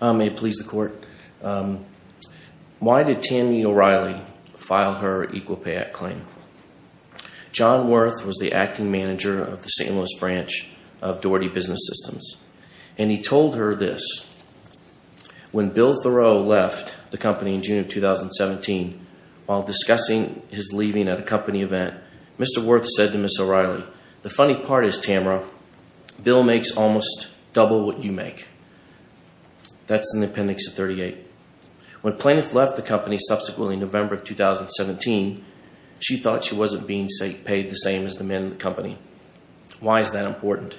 May it please the court, why did Tammy O'Reilly file her Equal Pay Act claim? John Wirth was the acting manager of the St. Louis branch of Daugherty Business Systems and he told her this, when Bill Thoreau left the company in June of 2017 while discussing his leaving at a company event, Mr. Wirth said to Ms. O'Reilly, the funny part is Tamara, Bill makes almost double what you make. That's in the appendix of 38. When Plaintiff left the company subsequently in November of 2017, she thought she wasn't being paid the same as the men in the company. Why is that important?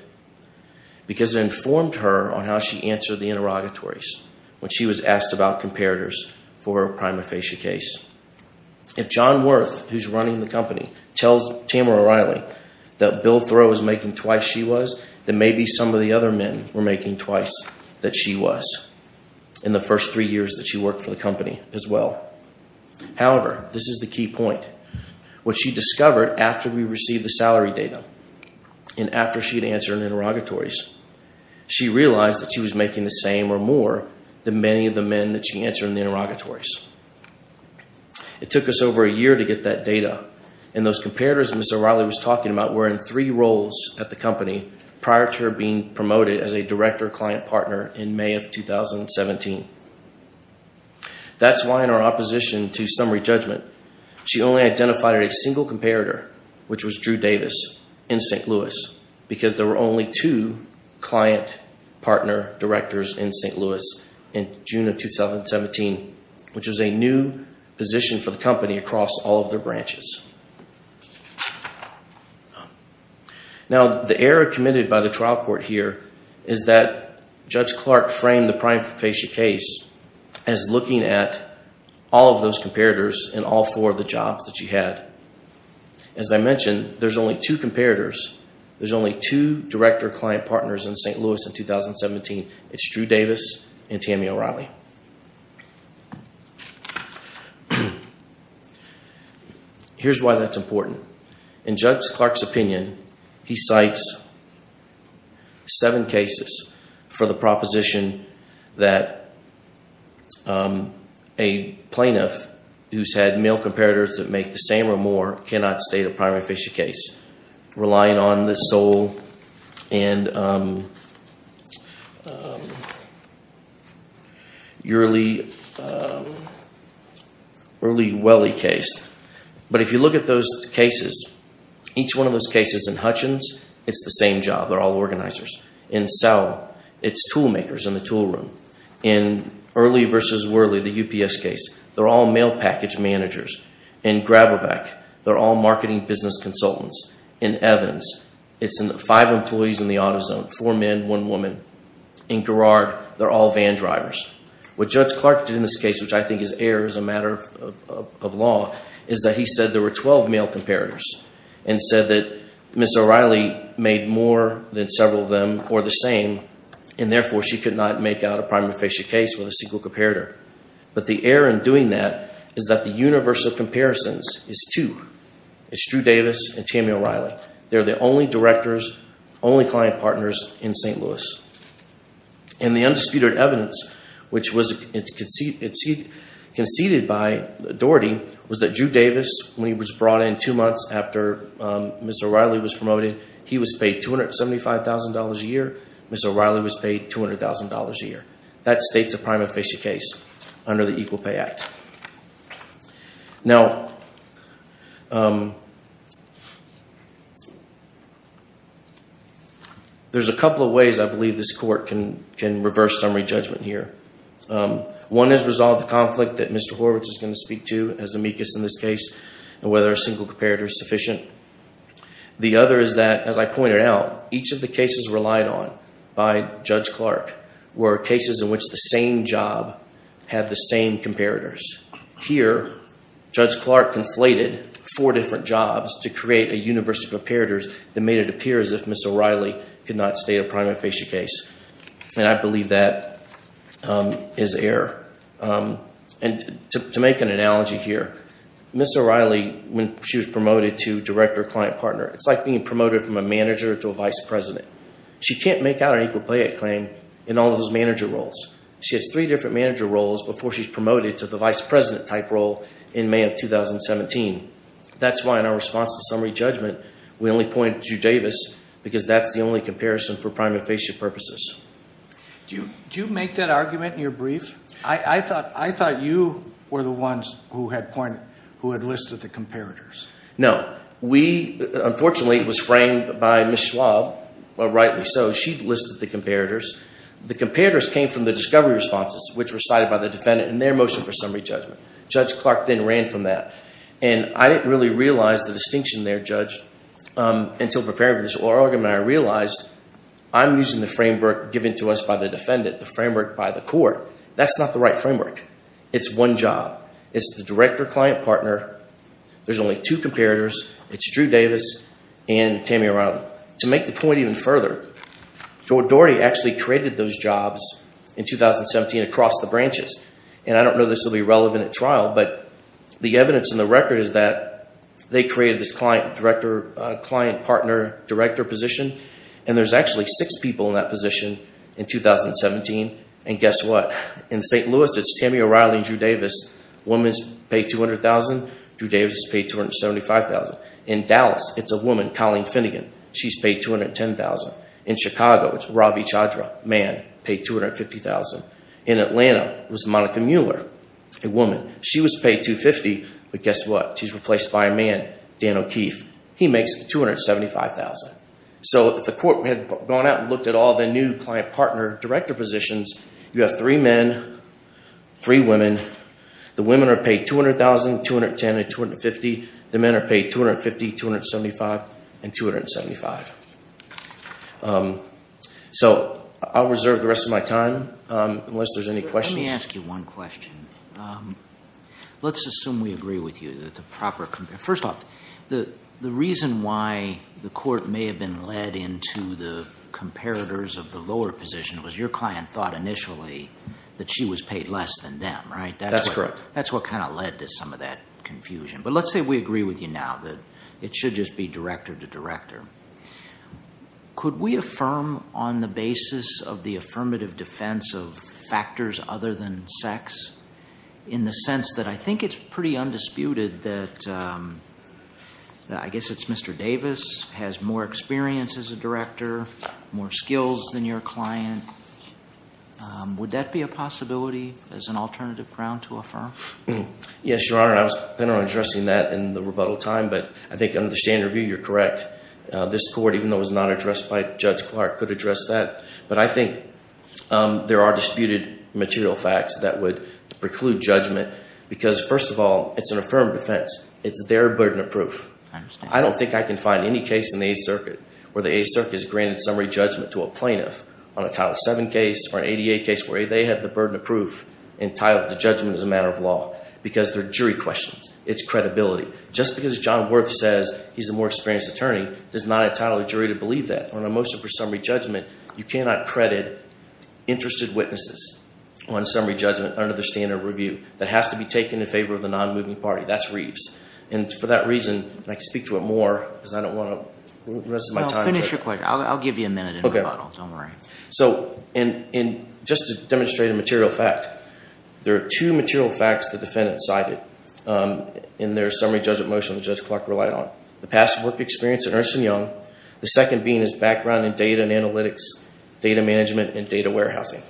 Because it informed her on how she answered the interrogatories when she was asked about comparators for her prima facie case. If John Wirth, who's running the company, tells Tamara O'Reilly that Bill Thoreau was making twice what she was, then maybe some of the other men were making twice what she was in the first three years that she worked for the company as well. However, this is the key point. What she discovered after we received the salary data and after she had answered interrogatories, she realized that she was making the same or more than many of the men that she answered in the interrogatories. It took us over a year to get that data and those comparators Ms. O'Reilly was talking about were in three roles at the company prior to her being promoted as a director client partner in May of 2017. That's why in our opposition to summary judgment, she only identified a single comparator, which was Drew Davis in St. Louis, because there were only two client partner directors in St. Louis in June of 2017, which was a new position for the company across all of their branches. Now, the error committed by the trial court here is that Judge Clark framed the Priam Fascia case as looking at all of those comparators in all four of the jobs that she had. As I mentioned, there's only two comparators. There's only two director client partners in St. Louis in 2017. It's Drew Davis and Tammy O'Reilly. Here's why that's important. In Judge Clark's opinion, he cites seven cases for the proposition that a plaintiff who's had male comparators that make the same or more cannot state a Priam Fascia case, relying on the Soule and O'Reilly-Welley case. But if you look at those cases, each one of those cases in Hutchins, it's the same job. They're all organizers. In Sowell, it's tool makers in the tool room. In O'Reilly versus Welley, the UPS case, they're all mail package managers. In Grabovac, they're all marketing business consultants. In Evans, it's five employees in the auto zone, four men, one woman. In Garrard, they're all van drivers. What Judge Clark did in this case, which I think is error as a matter of law, is that he said there were 12 male comparators and said that Ms. O'Reilly made more than several of them or the same, and therefore, she could not make out a Priam Fascia case with a single comparator. But the error in doing that is that the universe of comparisons is two. It's Drew Davis and Tami O'Reilly. They're the only directors, only client partners in St. Louis. And the undisputed evidence, which was conceded by Doherty, was that Drew Davis, when he was brought in two months after Ms. O'Reilly was promoted, he was paid $275,000 a year. Ms. O'Reilly was paid $200,000 a year. That states a Priam Fascia case under the Equal Pay Act. Now, there's a couple of ways I believe this court can reverse summary judgment here. One is resolve the conflict that Mr. Horvitz is going to speak to as amicus in this case and whether a single comparator is sufficient. The other is that, as I pointed out, each of the cases relied on by Judge Clark were cases in which the same job had the same comparators. Here, Judge Clark conflated four different jobs to create a universe of comparators that made it appear as if Ms. O'Reilly could not state a Priam Fascia case. And I believe that is error. And to make an analogy here, Ms. O'Reilly, when she was promoted to Director of Client Partner, it's like being promoted from a manager to a vice president. She can't make out an Equal Pay Act claim in all those manager roles. She has three different manager roles before she's promoted to the vice president type role in May of 2017. That's why in our response to summary judgment, we only pointed to Drew Davis because that's the only comparison for Priam and Fascia purposes. Do you make that argument in your brief? I thought you were the ones who had pointed, who had listed the comparators. No. We, unfortunately, it was framed by Ms. Schwab, but rightly so, she'd listed the comparators. The comparators came from the discovery responses, which were cited by the defendant in their motion for summary judgment. Judge Clark then ran from that. And I didn't really realize the distinction there, Judge, until preparing for this oral argument, I realized I'm using the framework given to us by the defendant, the framework by the court. That's not the right framework. It's one job. It's the director-client partner. There's only two comparators. It's Drew Davis and Tammy Riley. To make the point even further, Doherty actually created those jobs in 2017 across the branches. And I don't know this will be relevant at trial, but the evidence in the record is that they created this client-director, client-partner-director position. And there's actually six people in that position in 2017. And guess what? In St. Louis, it's Tammy O'Reilly and Drew Davis. Woman's paid $200,000. Drew Davis is paid $275,000. In Dallas, it's a woman, Colleen Finnegan. She's paid $210,000. In Chicago, it's Ravi Chandra, man, paid $250,000. In Atlanta, it was Monica Mueller, a woman. She was paid $250,000, but guess what? She's replaced by a man, Dan O'Keefe. He makes $275,000. So if the court had gone out and looked at all the new client-partner-director positions, you have three men, three women. The women are paid $200,000, $210,000, and $250,000. The men are paid $250,000, $275,000, and $275,000. So I'll reserve the rest of my time unless there's any questions. Let me ask you one question. Let's assume we agree with you that the proper compare. The court may have been led into the comparators of the lower position. It was your client thought initially that she was paid less than them, right? That's correct. That's what kind of led to some of that confusion. But let's say we agree with you now that it should just be director to director. Could we affirm on the basis of the affirmative defense of factors other than sex? In the sense that I think it's pretty undisputed that, I guess it's Mr. Davis has more experience as a director, more skills than your client. Would that be a possibility as an alternative ground to affirm? Yes, your honor. I was planning on addressing that in the rebuttal time. But I think under the standard review, you're correct. This court, even though it was not addressed by Judge Clark, could address that. But I think there are disputed material facts that would preclude judgment. Because first of all, it's an affirmed defense. It's their burden of proof. I don't think I can find any case in the Eighth Circuit where the Eighth Circuit has granted summary judgment to a plaintiff on a Title VII case or an ADA case where they have the burden of proof entitled to judgment as a matter of law. Because they're jury questions. It's credibility. Just because John Worth says he's a more experienced attorney does not entitle a jury to believe that. On a motion for summary judgment, you cannot credit interested witnesses on summary judgment under the standard review. That has to be taken in favor of the non-moving party. That's Reeves. And for that reason, and I can speak to it more because I don't want to waste my time. Finish your question. I'll give you a minute in rebuttal. Don't worry. So just to demonstrate a material fact, there are two material facts the defendant cited in their summary judgment motion that Judge Clark relied on. The past work experience at Ernst & Young. The second being his background in data and analytics, data management, and data warehousing.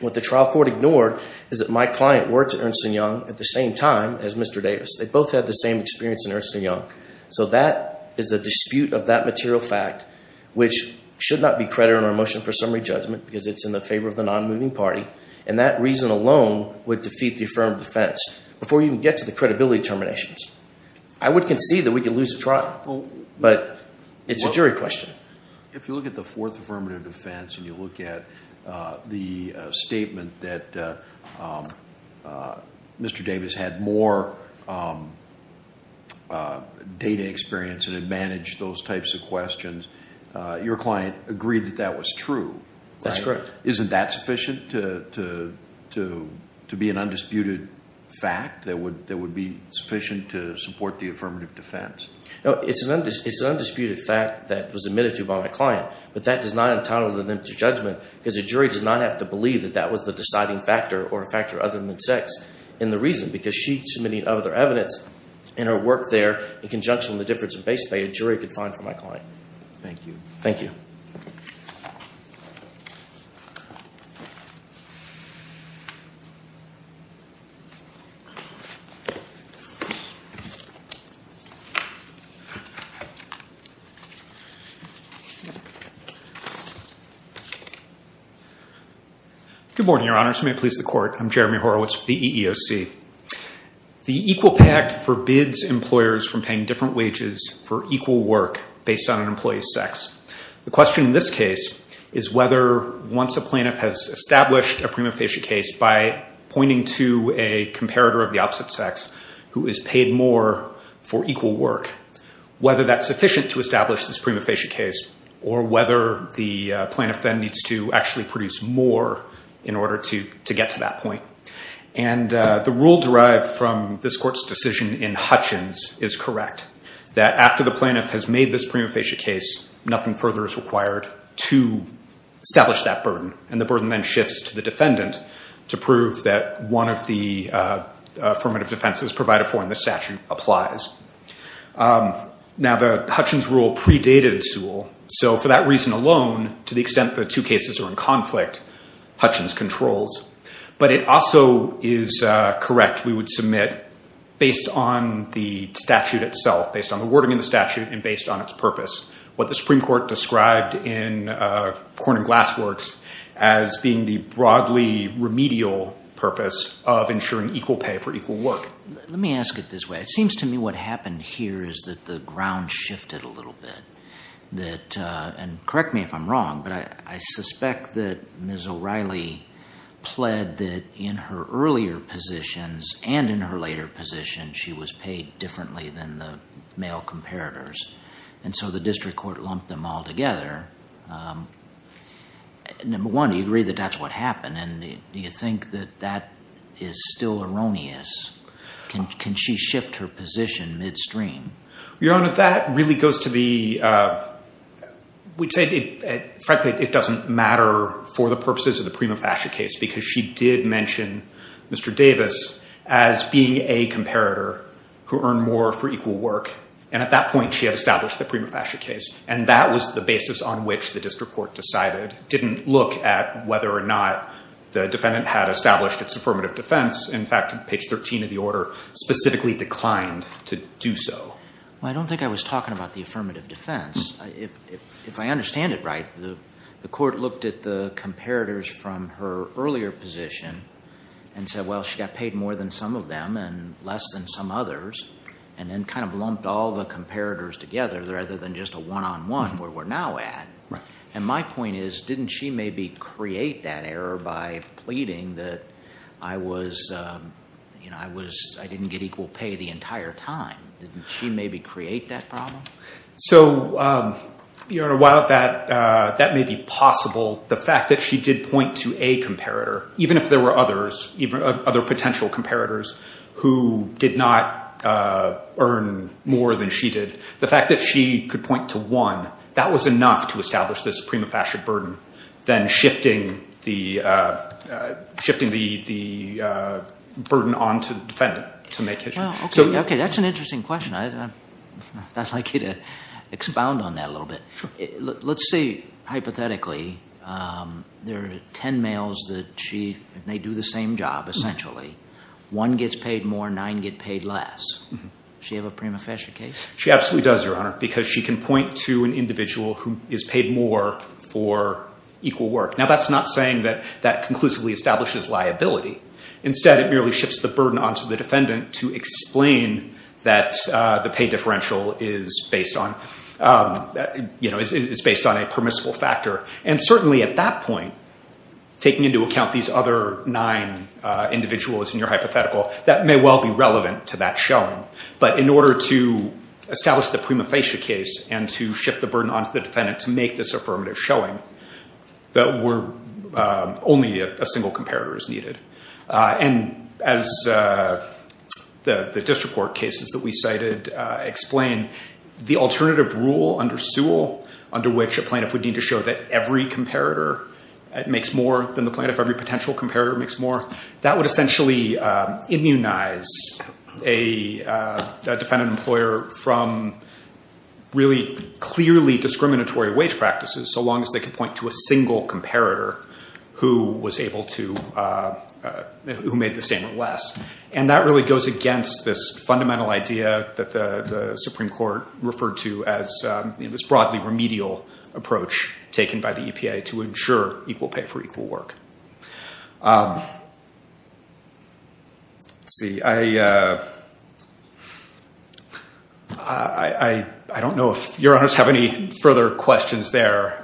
What the trial court ignored is that my client worked at Ernst & Young at the same time as Mr. Davis. They both had the same experience in Ernst & Young. So that is a dispute of that material fact, which should not be credited in our motion for summary judgment because it's in the favor of the non-moving party. And that reason alone would defeat the affirmative defense before you can get to the credibility determinations. I would concede that we could lose a trial, but it's a jury question. If you look at the fourth affirmative defense and you look at the statement that Mr. Davis had more data experience and had managed those types of questions, your client agreed that that was true. That's correct. Isn't that sufficient to be an undisputed fact that would be sufficient to support the affirmative defense? No, it's an undisputed fact that was admitted to by my client, but that does not entitle them to judgment because a jury does not have to believe that that was the deciding factor or a factor other than sex in the reason. Because she submitted other evidence in her work there in conjunction with the difference of base pay a jury could find for my client. Thank you. Thank you. Good morning, your honors. May it please the court. I'm Jeremy Horowitz with the EEOC. The Equal Pay Act forbids employers from paying different wages for equal work based on an employee's sex. The question in this case is whether once a plaintiff has established a prima facie case by pointing to a comparator of the opposite sex who is paid more for equal work, whether that's sufficient to establish this prima facie case or whether the plaintiff then needs to actually produce more in order to get to that point. And the rule derived from this court's decision in Hutchins is correct. That after the plaintiff has made this prima facie case, nothing further is required to establish that burden. And the burden then shifts to the defendant to prove that one of the affirmative defenses provided for in the statute applies. Now, the Hutchins rule predated Sewell. So for that reason alone, to the extent the two cases are in conflict, Hutchins controls. But it also is correct, we would submit, based on the statute itself, based on the wording of the statute and based on its purpose, what the Supreme Court described in Corn and Glass Works as being the broadly remedial purpose of ensuring equal pay for equal work. Let me ask it this way. It seems to me what happened here is that the ground shifted a little bit. That, and correct me if I'm wrong, but I suspect that Ms. O'Reilly pled that in her earlier positions and in her later position, she was paid differently than the male comparators. And so the district court lumped them all together. Number one, do you agree that that's what happened? And do you think that that is still erroneous? Can she shift her position midstream? Your Honor, that really goes to the, we'd say, frankly, it doesn't matter for the purposes of the Prima Fascia case, because she did mention Mr. Davis as being a comparator who earned more for equal work. And at that point, she had established the Prima Fascia case. And that was the basis on which the district court decided, didn't look at whether or not the defendant had established its affirmative defense. In fact, page 13 of the order specifically declined to do so. Well, I don't think I was talking about the affirmative defense. If I understand it right, the court looked at the comparators from her earlier position and said, well, she got paid more than some of them and less than some others, and then kind of lumped all the comparators together rather than just a one-on-one where we're now at. And my point is, didn't she maybe create that error by pleading that I was, you know, I was, I didn't get equal pay the entire time? Didn't she maybe create that problem? So, Your Honor, while that may be possible, the fact that she did point to a comparator, even if there were others, other potential comparators who did not earn more than she did, the fact that she could point to one, that was enough to establish this prima facie burden than shifting the burden on to the defendant to make it. Well, okay. That's an interesting question. I'd like you to expound on that a little bit. Let's say, hypothetically, there are 10 males that she, they do the same job, essentially. One gets paid more, nine get paid less. Does she have a prima facie case? She absolutely does, Your Honor, because she can point to an individual who is paid more for equal work. Now, that's not saying that that conclusively establishes liability. Instead, it merely shifts the burden onto the defendant to explain that the pay differential is based on, you know, is based on a permissible factor. And certainly at that point, taking into account these other nine individuals in your hypothetical, that may well be relevant to that showing. But in order to establish the prima facie case and to shift the burden onto the defendant to make this affirmative showing, that only a single comparator is needed. And as the district court cases that we cited explain, the alternative rule under Sewell, under which a plaintiff would need to show that every comparator makes more than the plaintiff, every potential comparator makes more, that would essentially immunize a defendant employer from really clearly discriminatory wage practices, so long as they can point to a single comparator who was able to, who made the same or less. And that really goes against this fundamental idea that the Supreme Court referred to as this broadly remedial approach taken by the EPA to ensure equal pay for equal work. Let's see, I, I don't know if your honors have any further questions there.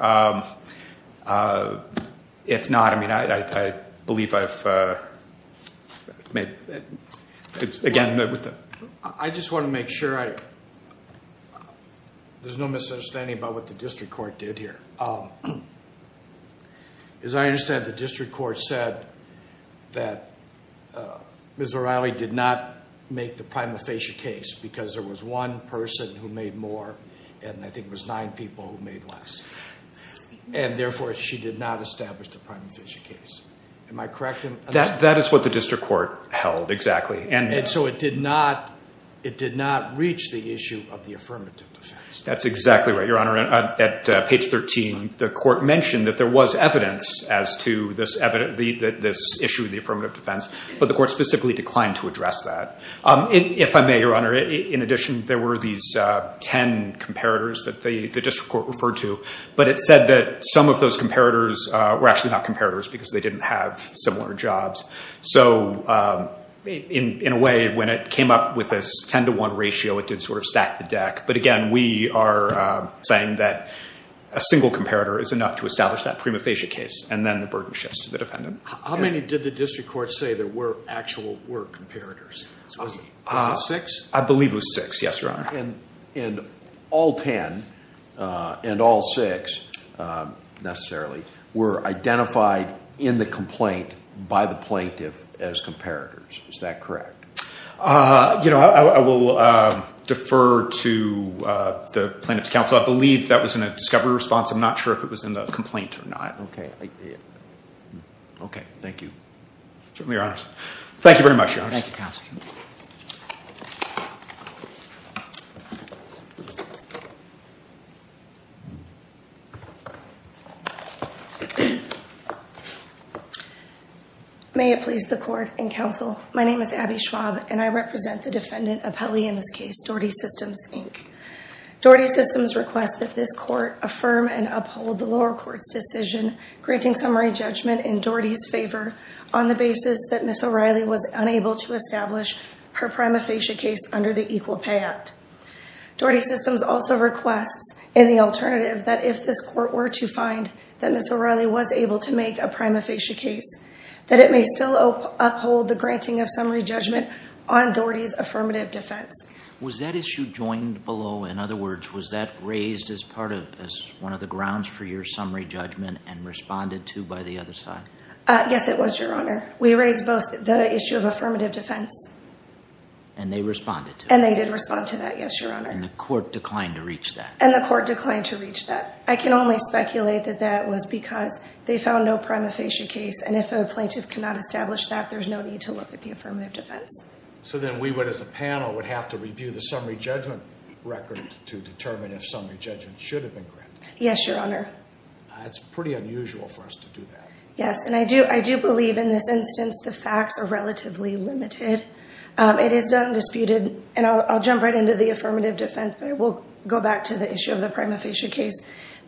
If not, I mean, I believe I've made, again, with the. I just want to make sure I, there's no misunderstanding about what the district court did here. As I understand it, the district court said that Ms. O'Reilly did not make the prima facie case because there was one person who made more, and I think it was nine people who made less. And therefore, she did not establish the prima facie case. Am I correct? That, that is what the district court held. Exactly. And so it did not, it did not reach the issue of the affirmative defense. That's exactly right. Your honor, at page 13, the court mentioned that there was evidence as to this issue of the affirmative defense, but the court specifically declined to address that. If I may, your honor, in addition, there were these 10 comparators that the district court referred to, but it said that some of those comparators were actually not comparators because they didn't have similar jobs. So in a way, when it came up with this 10 to one ratio, it did sort of stack the deck. But again, we are saying that a single comparator is enough to establish that prima facie case. And then the burden shifts to the defendant. How many did the district court say there were actual were comparators? Was it six? I believe it was six. Yes, your honor. And, and all 10 and all six necessarily were identified in the complaint by the plaintiff as comparators. Is that correct? Uh, you know, I will, uh, defer to, uh, the plaintiff's counsel. I believe that was in a discovery response. I'm not sure if it was in the complaint or not. Okay. Okay. Thank you. Certainly, your honor. Thank you very much. May it please the court and counsel. My name is Abby Schwab and I represent the defendant of Pelley in this case, Doherty Systems, Inc. Doherty Systems requests that this court affirm and uphold the lower court's decision, granting summary judgment in Doherty's favor on the basis that Ms. O'Reilly was unable to establish her prima facie case under the Equal Pay Act. Doherty Systems also requests in the alternative that if this court were to find that Ms. O'Reilly was able to make a prima facie case, that it may still uphold the granting of summary judgment on Doherty's affirmative defense. Was that issue joined below? In other words, was that raised as part of, as one of the grounds for your summary judgment and responded to by the other side? Uh, yes, it was, your honor. We raised both the issue of affirmative defense. And they responded to it? And they did respond to that. Yes, your honor. And the court declined to reach that? And the court declined to reach that. I can only speculate that that was because they found no prima facie case. And if a plaintiff cannot establish that, there's no need to look at the affirmative defense. So then we would, as a panel, would have to review the summary judgment record to determine if summary judgment should have been granted. Yes, your honor. It's pretty unusual for us to do that. Yes. And I do, I do believe in this instance, the facts are relatively limited. Um, it is undisputed and I'll, I'll jump right into the affirmative defense, but I will go back to the issue of the prima facie case.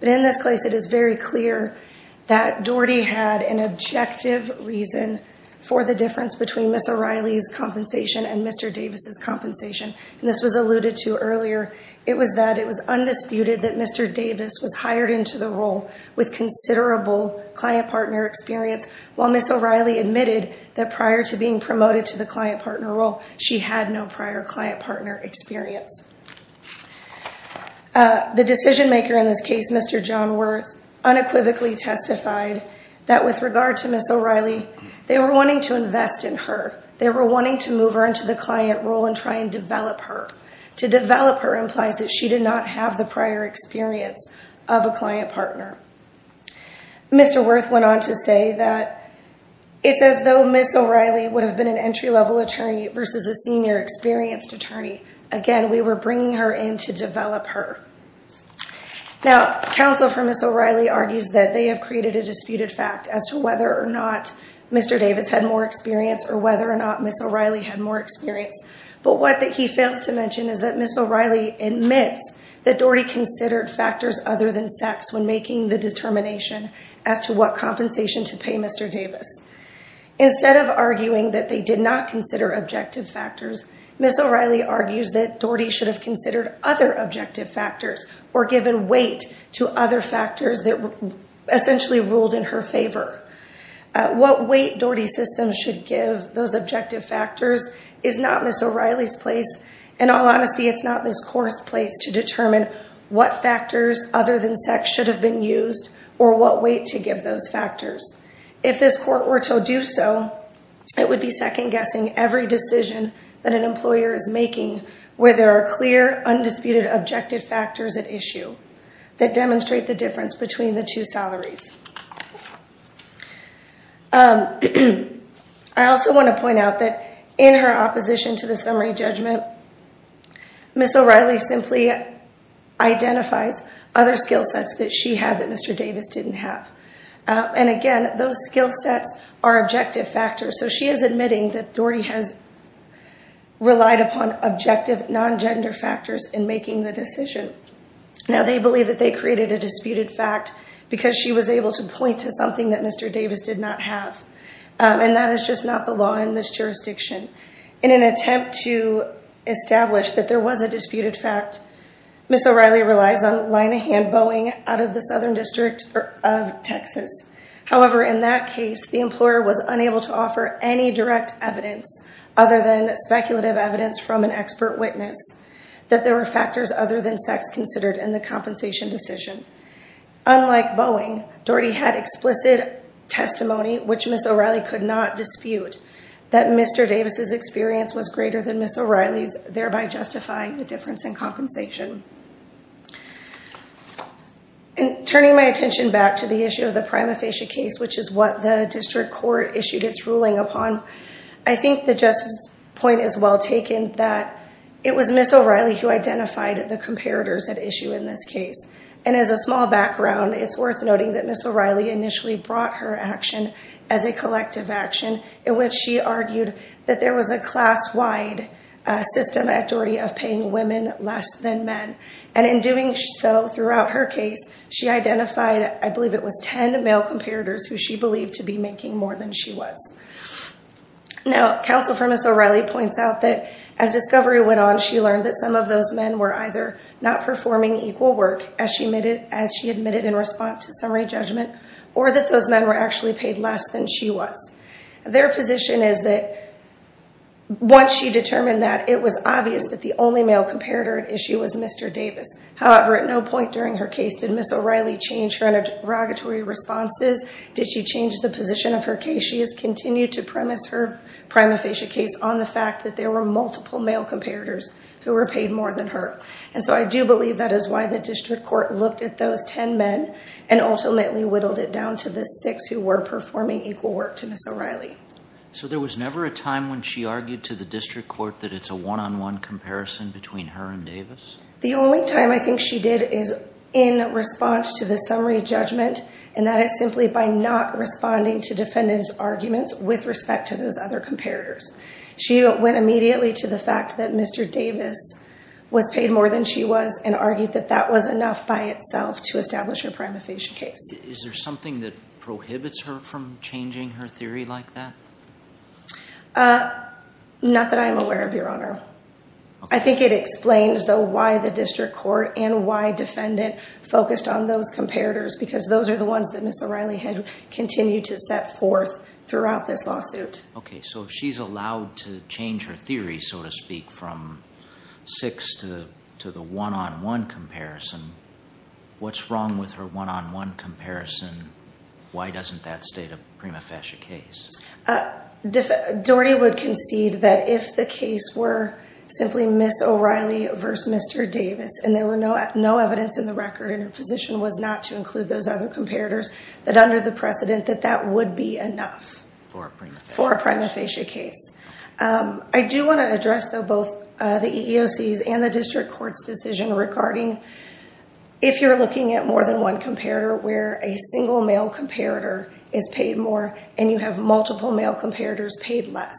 But in this case, it is very clear that Doherty had an objective reason for the difference between Ms. O'Reilly's compensation and Mr. Davis's compensation. And this was alluded to earlier. It was that it was undisputed that Mr. Davis was hired into the role with considerable client partner experience. While Ms. O'Reilly admitted that prior to being promoted to the client partner role, she had no prior client partner experience. Uh, the decision maker in this case, Mr. John Wirth, unequivocally testified that with regard to Ms. O'Reilly, they were wanting to invest in her. They were wanting to move her into the client role and try and develop her. To develop her implies that she did not have the prior experience of a client partner. Mr. Wirth went on to say that it's as though Ms. O'Reilly would have been an entry level attorney versus a senior experienced attorney. Again, we were bringing her in to develop her. Now, counsel for Ms. O'Reilly argues that they have created a disputed fact as to whether or not Mr. Davis had more experience or whether or not Ms. O'Reilly had more experience. But what he fails to mention is that Ms. O'Reilly admits that Doherty considered factors other than sex when making the determination as to what compensation to pay Mr. Davis. Instead of arguing that they did not consider objective factors, Ms. O'Reilly argues that Doherty should have considered other objective factors or given weight to other factors that essentially ruled in her favor. What weight Doherty's system should give those objective factors is not Ms. O'Reilly's place. In all honesty, it's not this court's place to determine what factors other than sex should have been used or what weight to give those factors. If this court were to do so, it would be second guessing every decision that an employer is making where there are clear, undisputed, objective factors at issue that demonstrate the difference between the two salaries. I also want to point out that in her opposition to the summary judgment, Ms. O'Reilly simply identifies other skill sets that she had that Mr. Davis didn't have. And again, those skill sets are objective factors. So she is admitting that Doherty has relied upon objective, non-gender factors in making the decision. Now, they believe that they created a disputed fact because she was able to point to something that Mr. Davis did not have, and that is just not the law in this jurisdiction. In an attempt to establish that there was a disputed fact, Ms. However, in that case, the employer was unable to offer any direct evidence other than speculative evidence from an expert witness that there were factors other than sex considered in the compensation decision. Unlike Boeing, Doherty had explicit testimony, which Ms. O'Reilly could not dispute, that Mr. Davis's experience was greater than Ms. O'Reilly's, thereby justifying the difference in compensation. In turning my attention back to the issue of the prima facie case, which is what the district court issued its ruling upon, I think the justice point is well taken that it was Ms. O'Reilly who identified the comparators at issue in this case. And as a small background, it's worth noting that Ms. O'Reilly initially brought her action as a collective action in which she argued that there was a class-wide system at Doherty of paying women less than men. And in doing so throughout her case, she identified, I believe it was 10 male comparators who she believed to be making more than she was. Now, counsel for Ms. O'Reilly points out that as discovery went on, she learned that some of those men were either not performing equal work as she admitted in response to summary judgment, or that those men were actually paid less than she was. Their position is that once she determined that, it was obvious that the only male comparator at issue was Mr. Davis. However, at no point during her case did Ms. O'Reilly change her interrogatory responses. Did she change the position of her case? She has continued to premise her prima facie case on the fact that there were multiple male comparators who were paid more than her. And so I do believe that is why the district court looked at those 10 men and ultimately whittled it down to the six who were performing equal work to Ms. O'Reilly. So there was never a time when she argued to the district court that it's a one-on-one comparison between her and Davis? The only time I think she did is in response to the summary judgment, and that is simply by not responding to defendant's arguments with respect to those other comparators. She went immediately to the fact that Mr. Davis was paid more than she was, and argued that that was enough by itself to establish her prima facie case. Is there something that prohibits her from changing her theory like that? Uh, not that I'm aware of, Your Honor. I think it explains though why the district court and why defendant focused on those comparators, because those are the ones that Ms. O'Reilly had continued to set forth throughout this lawsuit. Okay. So if she's allowed to change her theory, so to speak, from six to the one-on-one comparison, what's wrong with her one-on-one comparison? Why doesn't that state a prima facie case? Doherty would concede that if the case were simply Ms. O'Reilly versus Mr. Davis, and there were no evidence in the record, and her position was not to include those other comparators, that under the precedent that that would be enough. For a prima facie? Case. Um, I do want to address though, both, uh, the EEOC and the district court's decision regarding. If you're looking at more than one comparator where a single male comparator is paid more and you have multiple male comparators paid less.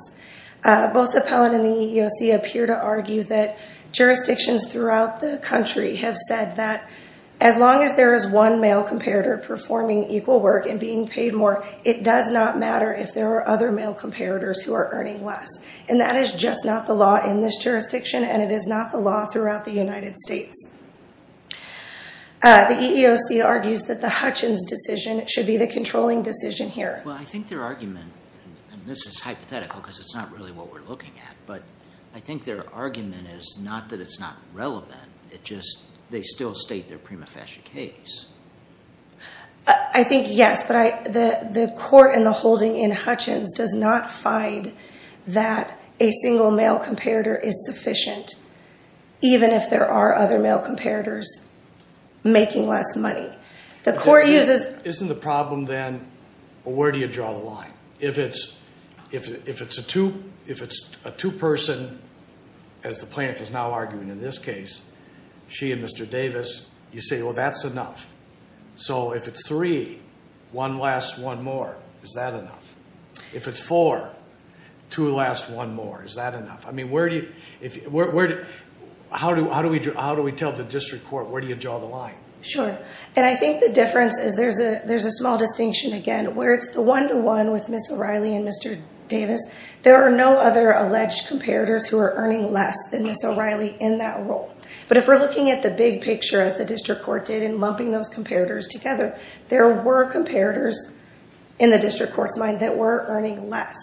Uh, both the appellant and the EEOC appear to argue that jurisdictions throughout the country have said that. As long as there is one male comparator performing equal work and being paid more. It does not matter if there are other male comparators who are earning less. And that is just not the law in this jurisdiction. And it is not the law throughout the United States. Uh, the EEOC argues that the Hutchins decision should be the controlling decision here. Well, I think their argument, and this is hypothetical because it's not really what we're looking at, but I think their argument is not that it's not relevant. It just, they still state their prima facie case. I think, yes, but I, the, the court and the holding in Hutchins does not find that a single male comparator is sufficient, even if there are other male comparators making less money. The court uses... Isn't the problem then, where do you draw the line? If it's, if, if it's a two, if it's a two person, as the plaintiff is now arguing in this case, she and Mr. Davis, you say, well, that's enough. So if it's three, one last, one more, is that enough? If it's four, two last, one more, is that enough? I mean, where do you, if, where, where do, how do, how do we do, how do we tell the district court? Where do you draw the line? Sure. And I think the difference is there's a, there's a small distinction again, where it's the one-to-one with Ms. O'Reilly and Mr. Davis, there are no other alleged comparators who are earning less than Ms. O'Reilly in that role. But if we're looking at the big picture as the district court did in lumping those comparators together, there were comparators in the district court's mind that were earning less.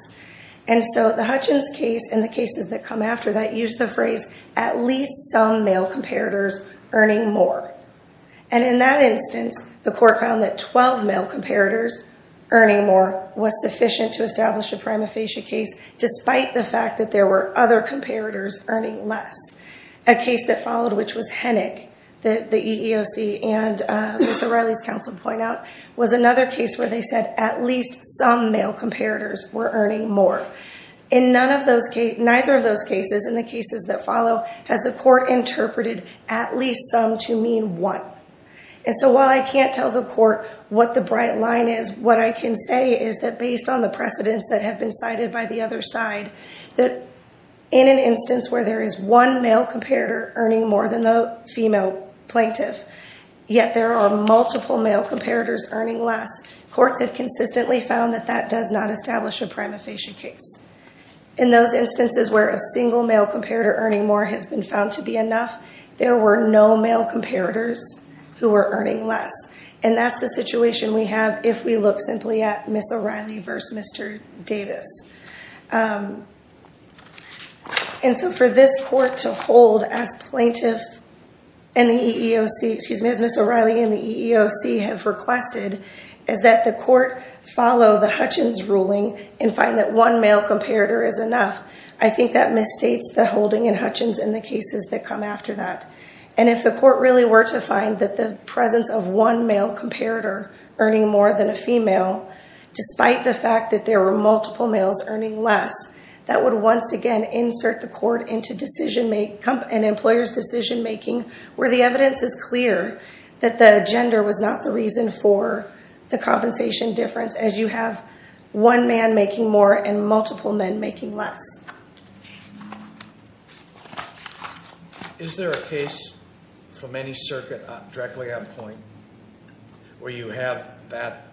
And so the Hutchins case and the cases that come after that use the phrase, at least some male comparators earning more. And in that instance, the court found that 12 male comparators earning more was sufficient to establish a prima facie case, despite the fact that there were other comparators earning less. A case that followed, which was Henick, the EEOC and Ms. O'Reilly's counsel point out, was another case where they said at least some male comparators were earning more. In none of those cases, neither of those cases, in the cases that follow, has the court interpreted at least some to mean one. And so while I can't tell the court what the bright line is, what I can say is that based on the precedents that have been cited by the other side, that in an instance where there is one male comparator earning more than the female plaintiff, yet there are multiple male comparators earning less, courts have consistently found that that does not establish a prima facie case. In those instances where a single male comparator earning more has been found to be enough, there were no male comparators who were earning less. And that's the situation we have if we look simply at Ms. O'Reilly versus Mr. Davis. And so for this court to hold as plaintiff and the EEOC, excuse me, as Ms. O'Reilly and the EEOC have requested, is that the court follow the Hutchins ruling and find that one male comparator is enough. I think that misstates the holding in Hutchins in the cases that come after that. And if the court really were to find that the presence of one male comparator earning more than a female, despite the fact that there were multiple males earning less, that would once again insert the court into decision-making and employers' decision-making where the evidence is clear that the gender was not the reason for the compensation difference as you have one man making more and multiple men making less. Is there a case from any circuit directly on point where you have that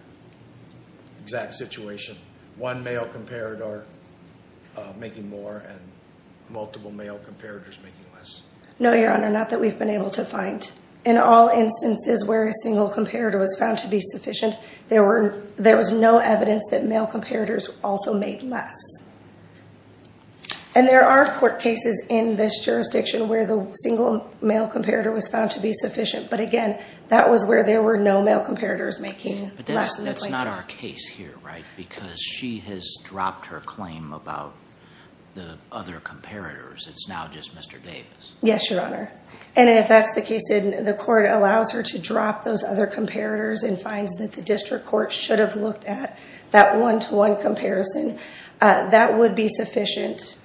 exact situation, one male comparator making more and multiple male comparators making less? No, Your Honor, not that we've been able to find. In all instances where a single comparator was found to be sufficient, there was no evidence that male comparators also made less. And there are court cases in this jurisdiction where the single male comparator was found to be sufficient, but again, that was where there were no male comparators making less in the plain time. But that's not our case here, right, because she has dropped her claim about the other comparators. It's now just Mr. Davis. Yes, Your Honor. And if that's the case, then the court allows her to drop those other comparators and finds that the district court should have looked at that one-to-one comparison. That would be sufficient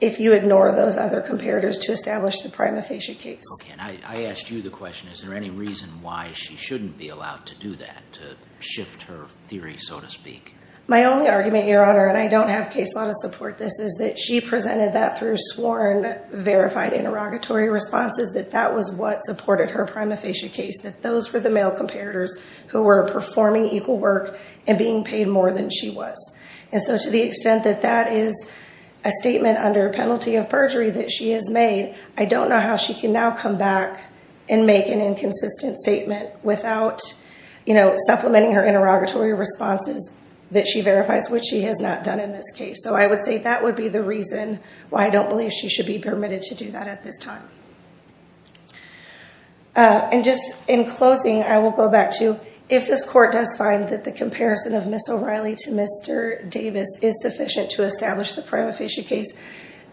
if you ignore those other comparators to establish the prima facie case. Okay, and I asked you the question, is there any reason why she shouldn't be allowed to do that, to shift her theory, so to speak? My only argument, Your Honor, and I don't have case law to support this, is that she presented that through sworn verified interrogatory responses, that that was what supported her prima facie case, that those were the male comparators who were performing equal work and being paid more than she was. And so to the extent that that is a statement under penalty of perjury that she has made, I don't know how she can now come back and make an inconsistent statement without supplementing her interrogatory responses that she verifies, which she has not done in this case. So I would say that would be the reason why I don't believe she should be permitted to do that at this time. And just in closing, I will go back to, if this court does find that the comparison of Ms. O'Reilly to Mr. Davis is sufficient to establish the prima facie case,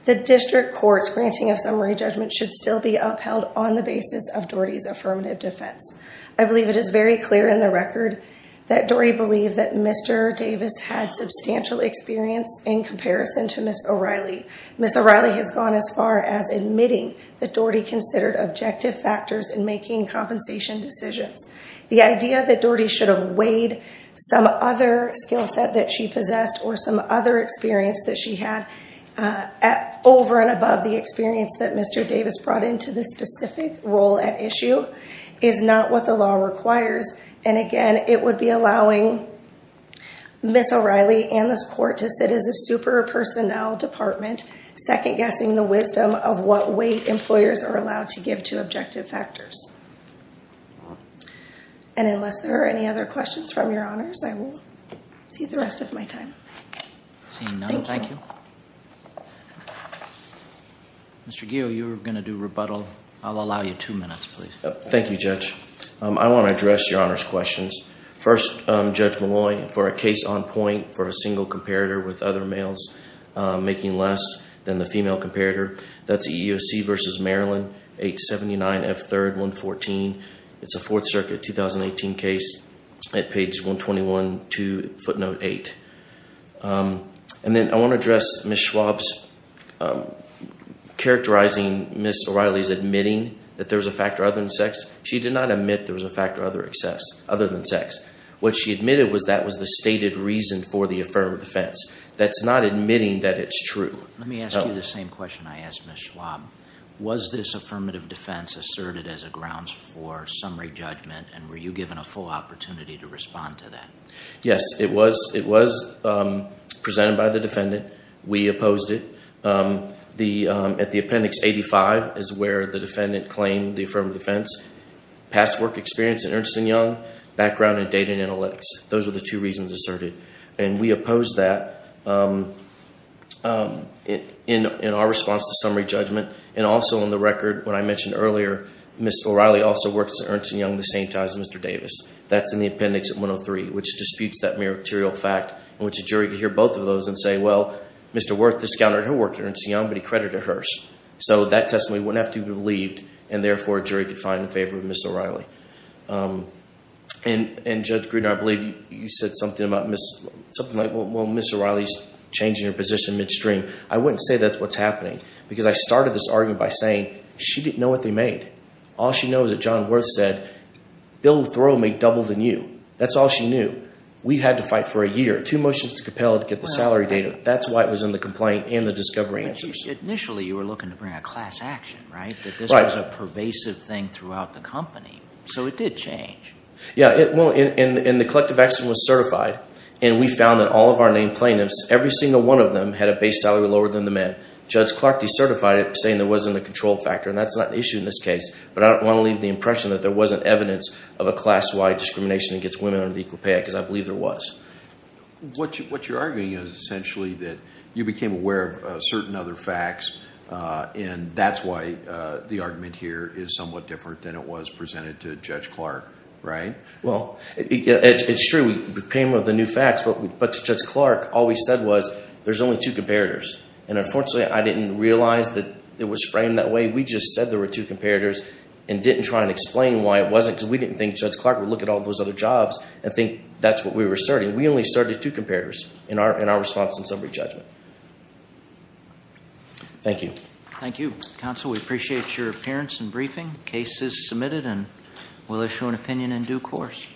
the district court's granting of summary judgment should still be upheld on the basis of Doherty's affirmative defense. I believe it is very clear in the record that Doherty believed that Mr. Davis had substantial experience in comparison to Ms. O'Reilly. Ms. O'Reilly has gone as far as admitting that Doherty considered objective factors in making compensation decisions. The idea that Doherty should have weighed some other skill set that she possessed or some other experience that she had over and above the experience that Mr. Davis brought into this specific role at issue is not what the law requires. And again, it would be allowing Ms. O'Reilly and this court to sit as a super personnel department, second-guessing the wisdom of what weight employers are allowed to give to objective factors. And unless there are any other questions from your honors, I will see the rest of my time. Seeing none, thank you. Mr. Geo, you were going to do rebuttal. I'll allow you two minutes, please. Thank you, Judge. I want to address your honors' questions. First, Judge Molloy, for a case on point for a single comparator with other males making less than the female comparator, that's EEOC v. Maryland, 879 F. 3rd, 114. It's a Fourth Circuit 2018 case at page 121 to footnote 8. And then I want to address Ms. Schwab's characterizing Ms. O'Reilly's admitting that there was a factor other than sex. She did not admit there was a factor other than sex. What she admitted was that was the stated reason for the affirmative defense. That's not admitting that it's true. Let me ask you the same question I asked Ms. Schwab. Was this affirmative defense asserted as a grounds for summary judgment, and were you given a full opportunity to respond to that? Yes, it was presented by the defendant. We opposed it. At the appendix 85 is where the defendant claimed the affirmative defense. Past work experience in Ernst & Young, background in data and analytics. Those are the two reasons asserted. And we opposed that in our response to summary judgment. And also on the record, what I mentioned earlier, Ms. O'Reilly also works at Ernst & Young at the same time as Mr. Davis. That's in the appendix 103, which disputes that meritorial fact. I want the jury to hear both of those and say, well, Mr. Wirth discounted her work at Ernst & Young, but he credited hers. So that testimony wouldn't have to be relieved, and therefore a jury could find in favor of Ms. O'Reilly. And Judge Gruden, I believe you said something about Ms., something like, well, Ms. O'Reilly's changing her position midstream. I wouldn't say that's what's happening, because I started this argument by saying she didn't know what they made. All she knows is that John Wirth said, Bill Thoreau made double than you. That's all she knew. We had to fight for a year, two motions to compel her to get the salary data. That's why it was in the complaint and the discovery answers. Initially, you were looking to bring a class action, right? That this was a pervasive thing throughout the company. So it did change. Yeah, well, and the collective action was certified. And we found that all of our named plaintiffs, every single one of them had a base salary lower than the men. Judge Clark decertified it, saying there wasn't a control factor. And that's not an issue in this case. But I don't want to leave the impression that there wasn't evidence of a class-wide discrimination against women under the Equal Pay Act. Because I believe there was. What you're arguing is essentially that you became aware of certain other facts. And that's why the argument here is somewhat different than it was presented to Judge Clark, right? Well, it's true. We became aware of the new facts. But to Judge Clark, all we said was, there's only two comparators. And unfortunately, I didn't realize that it was framed that way. We just said there were two comparators and didn't try and explain why it wasn't. Because we didn't think Judge Clark would look at all those other jobs and think that's what we were asserting. We only asserted two comparators in our response and summary judgment. Thank you. Thank you, counsel. We appreciate your appearance and briefing. Case is submitted and we'll issue an opinion in due course.